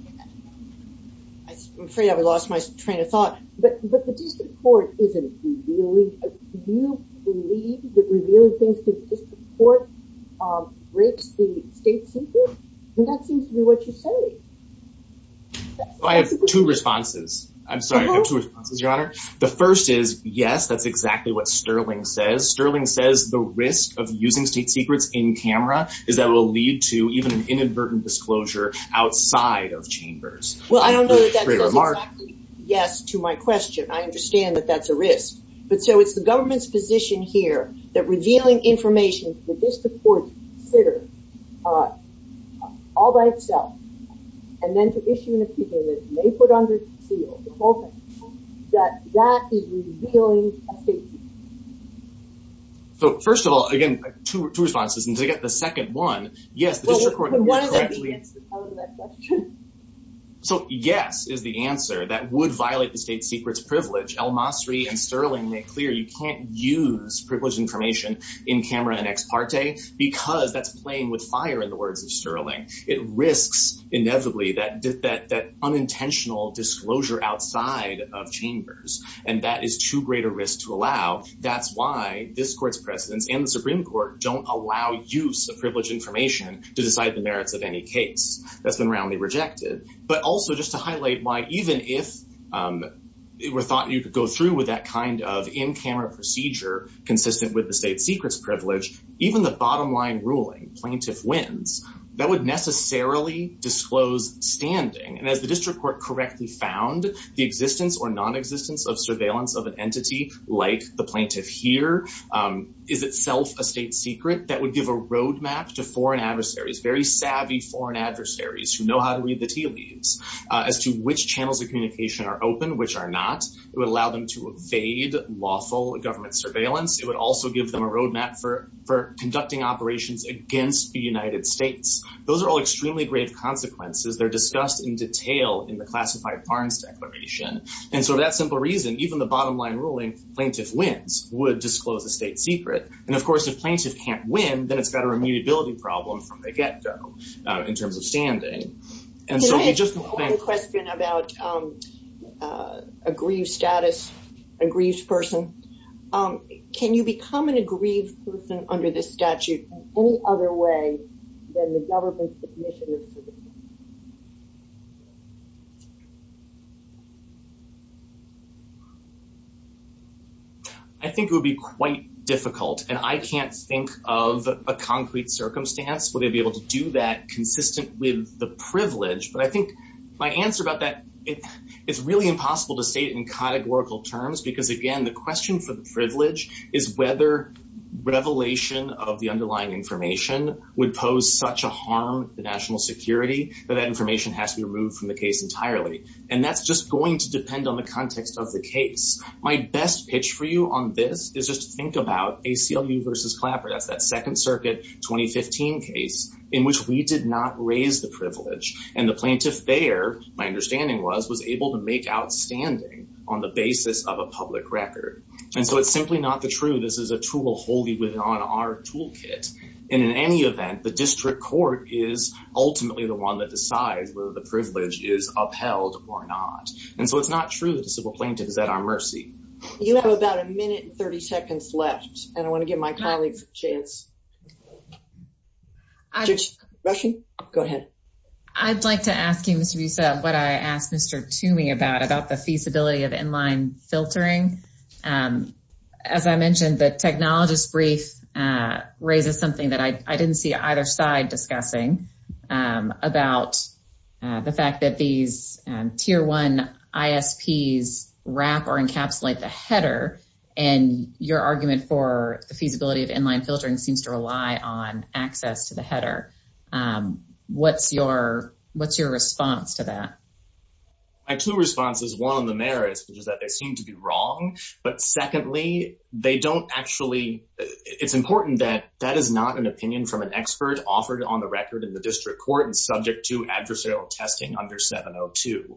afraid I've lost my train of thought. But the district court isn't revealing... Do you believe that revealing things to the district court breaks the state secret? And that seems to be what you're saying. I have two responses. I'm sorry. I have two responses, Your Honor. The first is, yes, that's exactly what Sterling says. Sterling says the risk of using state disclosure outside of chambers. Well, I don't know that that's exactly... Yes, to my question. I understand that that's a risk. But so it's the government's position here that revealing information to the district court to consider all by itself, and then to issue an appeal that may put under seal the whole thing, that that is revealing a state secret. So first of all, again, two responses. And to get the second one, yes, the district court... What is the answer to that question? So yes is the answer. That would violate the state secret's privilege. El-Masri and Sterling make clear you can't use privileged information in camera and ex parte because that's playing with fire, in the words of Sterling. It risks, inevitably, that unintentional disclosure outside of chambers. And that is too great a risk to allow. That's why this court's precedents and Supreme Court don't allow use of privileged information to decide the merits of any case. That's been roundly rejected. But also just to highlight why even if it were thought you could go through with that kind of in-camera procedure consistent with the state secret's privilege, even the bottom line ruling, plaintiff wins, that would necessarily disclose standing. And as the district court correctly found, the existence or nonexistence of surveillance of entity like the plaintiff here is itself a state secret that would give a roadmap to foreign adversaries, very savvy foreign adversaries who know how to read the tea leaves, as to which channels of communication are open, which are not. It would allow them to evade lawful government surveillance. It would also give them a roadmap for conducting operations against the United States. Those are all extremely grave consequences. They're discussed in detail in the classified Barnes declaration. And so that simple reason, even the bottom line ruling, plaintiff wins, would disclose the state secret. And of course, if plaintiff can't win, then it's got a remediability problem from the get-go in terms of standing. Can I ask one question about a grieved status, a grieved person? Can you become an aggrieved person under this statute in any other way than the government's submission? I think it would be quite difficult, and I can't think of a concrete circumstance where they'd be able to do that consistent with the privilege. But I think my answer about that, it's really impossible to state in categorical terms, because again, the question for the privilege is whether revelation of the underlying information would pose such a harm to national security, that that information has to be removed from the case entirely. And that's a question that just going to depend on the context of the case. My best pitch for you on this is just to think about ACLU versus Clapper. That's that Second Circuit 2015 case in which we did not raise the privilege. And the plaintiff there, my understanding was, was able to make outstanding on the basis of a public record. And so it's simply not the truth. This is a tool wholly within our toolkit. And in any event, the district court is ultimately the one that decides whether the privilege is or not. And so it's not true that the civil plaintiff is at our mercy. You have about a minute and 30 seconds left, and I want to give my colleagues a chance. Go ahead. I'd like to ask you, Mr. Busa, what I asked Mr. Toomey about, about the feasibility of inline filtering. As I mentioned, the technologist brief raises something that I didn't see either side discussing about the fact that these Tier 1 ISPs wrap or encapsulate the header. And your argument for the feasibility of inline filtering seems to rely on access to the header. What's your response to that? My two responses, one on the merits, which is that they seem to be wrong. But secondly, they don't actually, it's important that that is not an opinion from an expert offered on the record in the district court and subject to adversarial testing under 702.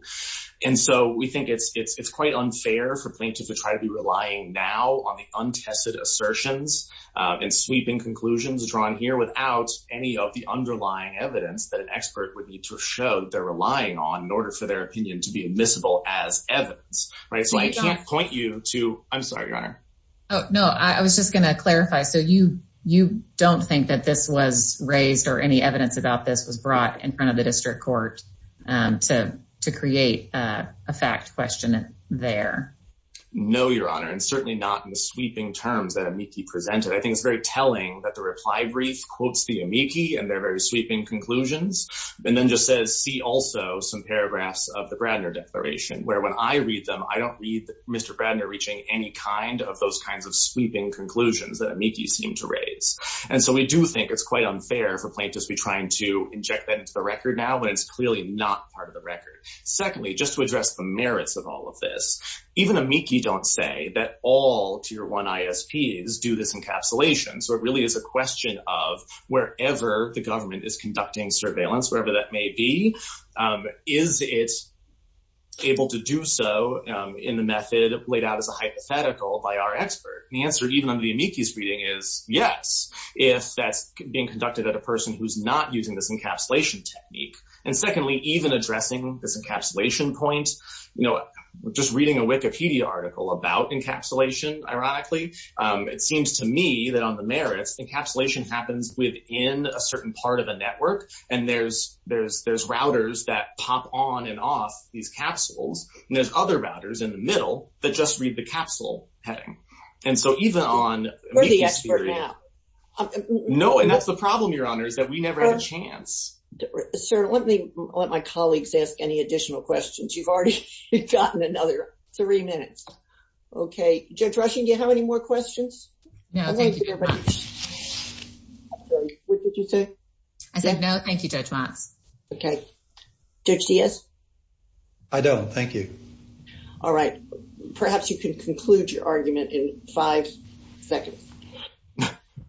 And so we think it's quite unfair for plaintiffs to try to be relying now on the untested assertions and sweeping conclusions drawn here without any of the underlying evidence that an expert would need to show they're relying on in order for their opinion to be admissible as evidence, right? So I can't point you to, I'm sorry, your honor. No, I was just going to clarify. So you don't think that this was raised or any evidence about this was brought in front of the district court to create a fact question there? No, your honor. And certainly not in the sweeping terms that amici presented. I think it's very telling that the reply brief quotes the amici and their very sweeping conclusions. And then just says, see also some paragraphs of the Bradner declaration where when I read them, I don't read Mr. Bradner reaching any kind of those kinds of sweeping conclusions that amici seem to raise. And so we do think it's quite unfair for plaintiffs to be trying to inject that into the record now, when it's clearly not part of the record. Secondly, just to address the merits of all of this, even amici don't say that all tier one ISPs do this encapsulation. So it really is a question of wherever the government is conducting surveillance, wherever that may be, is it able to do so in the method laid out as a hypothetical by our expert? The answer even under the amici's reading is yes, if that's being conducted at a person who's not using this encapsulation technique. And secondly, even addressing this encapsulation point, you know, just reading a Wikipedia article about encapsulation, ironically, it seems to me that on the merits, encapsulation happens within a certain part of a network. And there's routers that pop on and off these capsules, and there's other routers in the middle that just read the capsule heading. And so even on... We're the expert now. No, and that's the problem, Your Honor, is that we never had a chance. Sir, let me let my colleagues ask any additional questions. You've already gotten another three minutes. Okay, Judge Rushing, do you have any more questions? No, thank you very much. What did you say? I said no, thank you, Judge Watts. Okay, Judge Diaz? I don't, thank you. All right, perhaps you can conclude your argument in five seconds.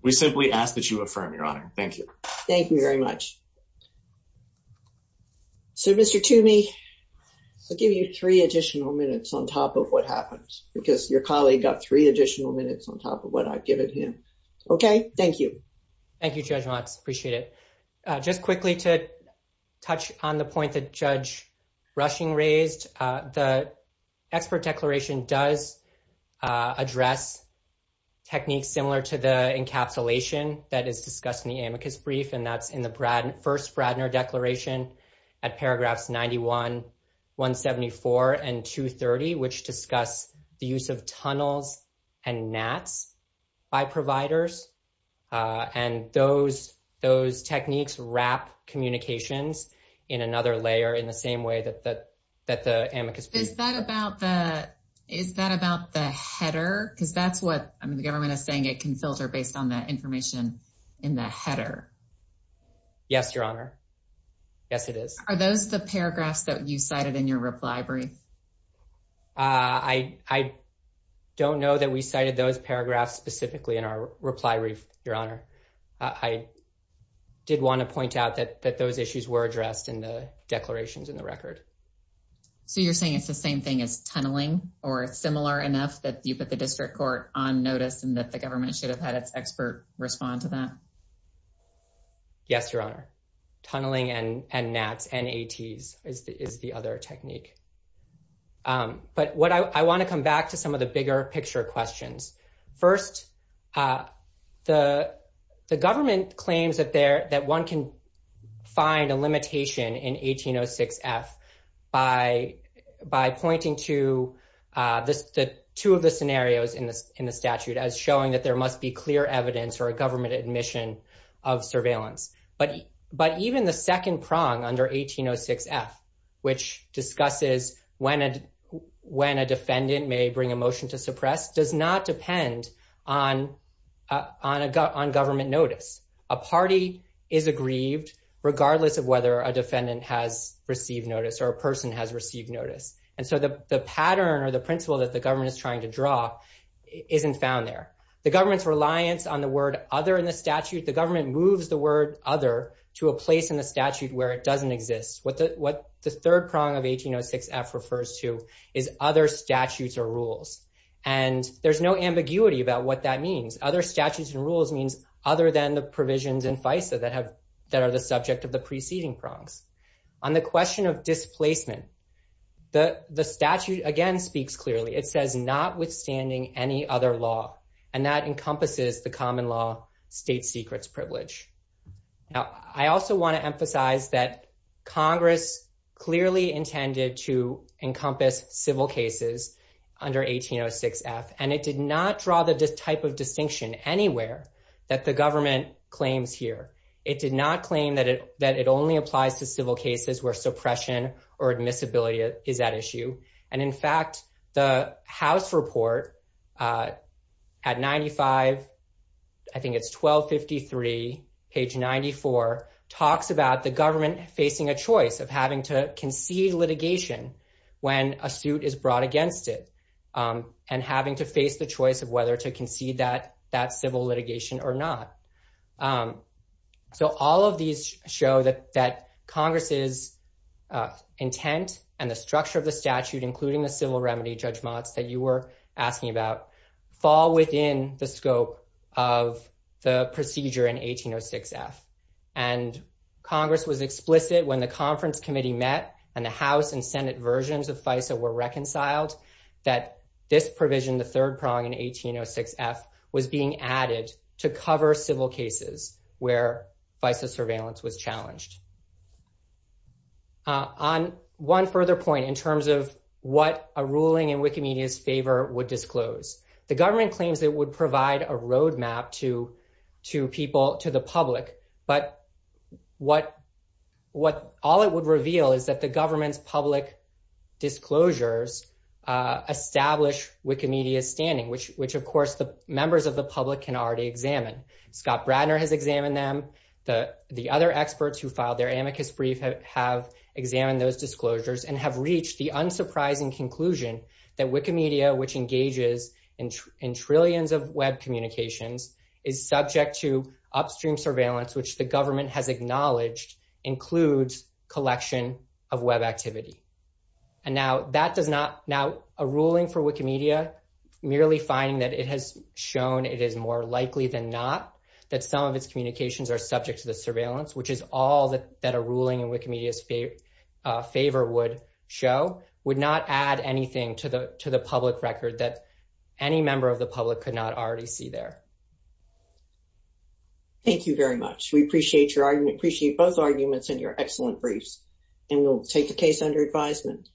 We simply ask that you affirm, Your Honor. Thank you. Thank you very much. So, Mr. Toomey, I'll give you three additional minutes on top of what happened because your colleague got three additional minutes on top of what I've given him. Okay, thank you. Thank you, Judge Watts. Appreciate it. Just quickly to touch on the point that Judge Rushing raised, the expert declaration does address techniques similar to the encapsulation that is discussed in the amicus brief, and that's in the first Bradner declaration at paragraphs 91, 174, and 230, which discuss the use of tunnels and gnats by providers, and those techniques wrap communications in another layer in the same way that the amicus brief. Is that about the, is that about the header? Because that's what, I mean, the government is saying it can filter based on the information in the header. Yes, Your Honor. Yes, it is. Are those the paragraphs that you cited in your reply brief? I don't know that we cited those paragraphs specifically in our reply brief, Your Honor. I did want to point out that those issues were addressed in the declarations in the record. So, you're saying it's the same thing as tunneling or similar enough that you put the district court on notice and that the government should have had its expert respond to that? Yes, Your Honor. Tunneling and gnats, N-A-T-s, is the other technique. But what I want to come back to some of the bigger picture questions. First, the government claims that one can find a limitation in 1806 F by pointing to two of the scenarios in the statute as showing that there must be clear evidence or a government admission of surveillance. But even the second prong under 1806 F, which discusses when a defendant may bring a motion to suppress, does not depend on government notice. A party is aggrieved regardless of whether a defendant has received notice or a person has received notice. And so, the pattern or the principle that the government is trying to draw isn't found there. The government's reliance on the word other in the statute, the government moves the word other to a place in the statute where it doesn't exist. What the third prong of 1806 F refers to is other statutes or rules. And there's no ambiguity about what that means. Other statutes and rules means other than the provisions in FISA that are the subject of the preceding prongs. On the question of displacement, the statute, again, speaks clearly. It says not withstanding any other law. And that encompasses the common law state secrets privilege. Now, I also want to emphasize that Congress clearly intended to encompass civil cases under 1806 F. And it did not draw the type of distinction anywhere that the government claims here. It did not claim that it only applies to civil cases where suppression or admissibility is at issue. And in fact, the House report at 95, I think it's 1253, page 94, talks about the government facing a choice of having to concede litigation when a suit is brought against it. And having to face the choice of whether to concede that civil litigation or not. So all of these show that Congress's intent and the structure of the statute, including the civil remedy judgments that you were asking about, fall within the scope of the procedure in 1806 F. And Congress was explicit when the conference committee met and the House and Senate versions of FISA were reconciled that this provision, the third prong in 1806 F, was being added to cover civil cases where FISA surveillance was challenged. On one further point in terms of what a ruling in Wikimedia's favor would disclose, the government claims it would provide a roadmap to people, to the public. But all it would reveal is that the government's public disclosures establish Wikimedia's standing, which of course the members of the public can already examine. Scott Bradner has examined them. The other experts who filed their amicus brief have examined those disclosures and have reached the unsurprising conclusion that Wikimedia, which engages in trillions of web communications, is subject to upstream surveillance, which the government has acknowledged includes collection of web activity. Now, a ruling for Wikimedia merely finding that it has shown it is more likely than not that some of its communications are subject to the surveillance, which is all that a ruling in Wikimedia's favor would show, would not add anything to the public record that any member of the public could not already see there. Thank you very much. We appreciate both arguments and your excellent briefs, and we'll take the case under advisement.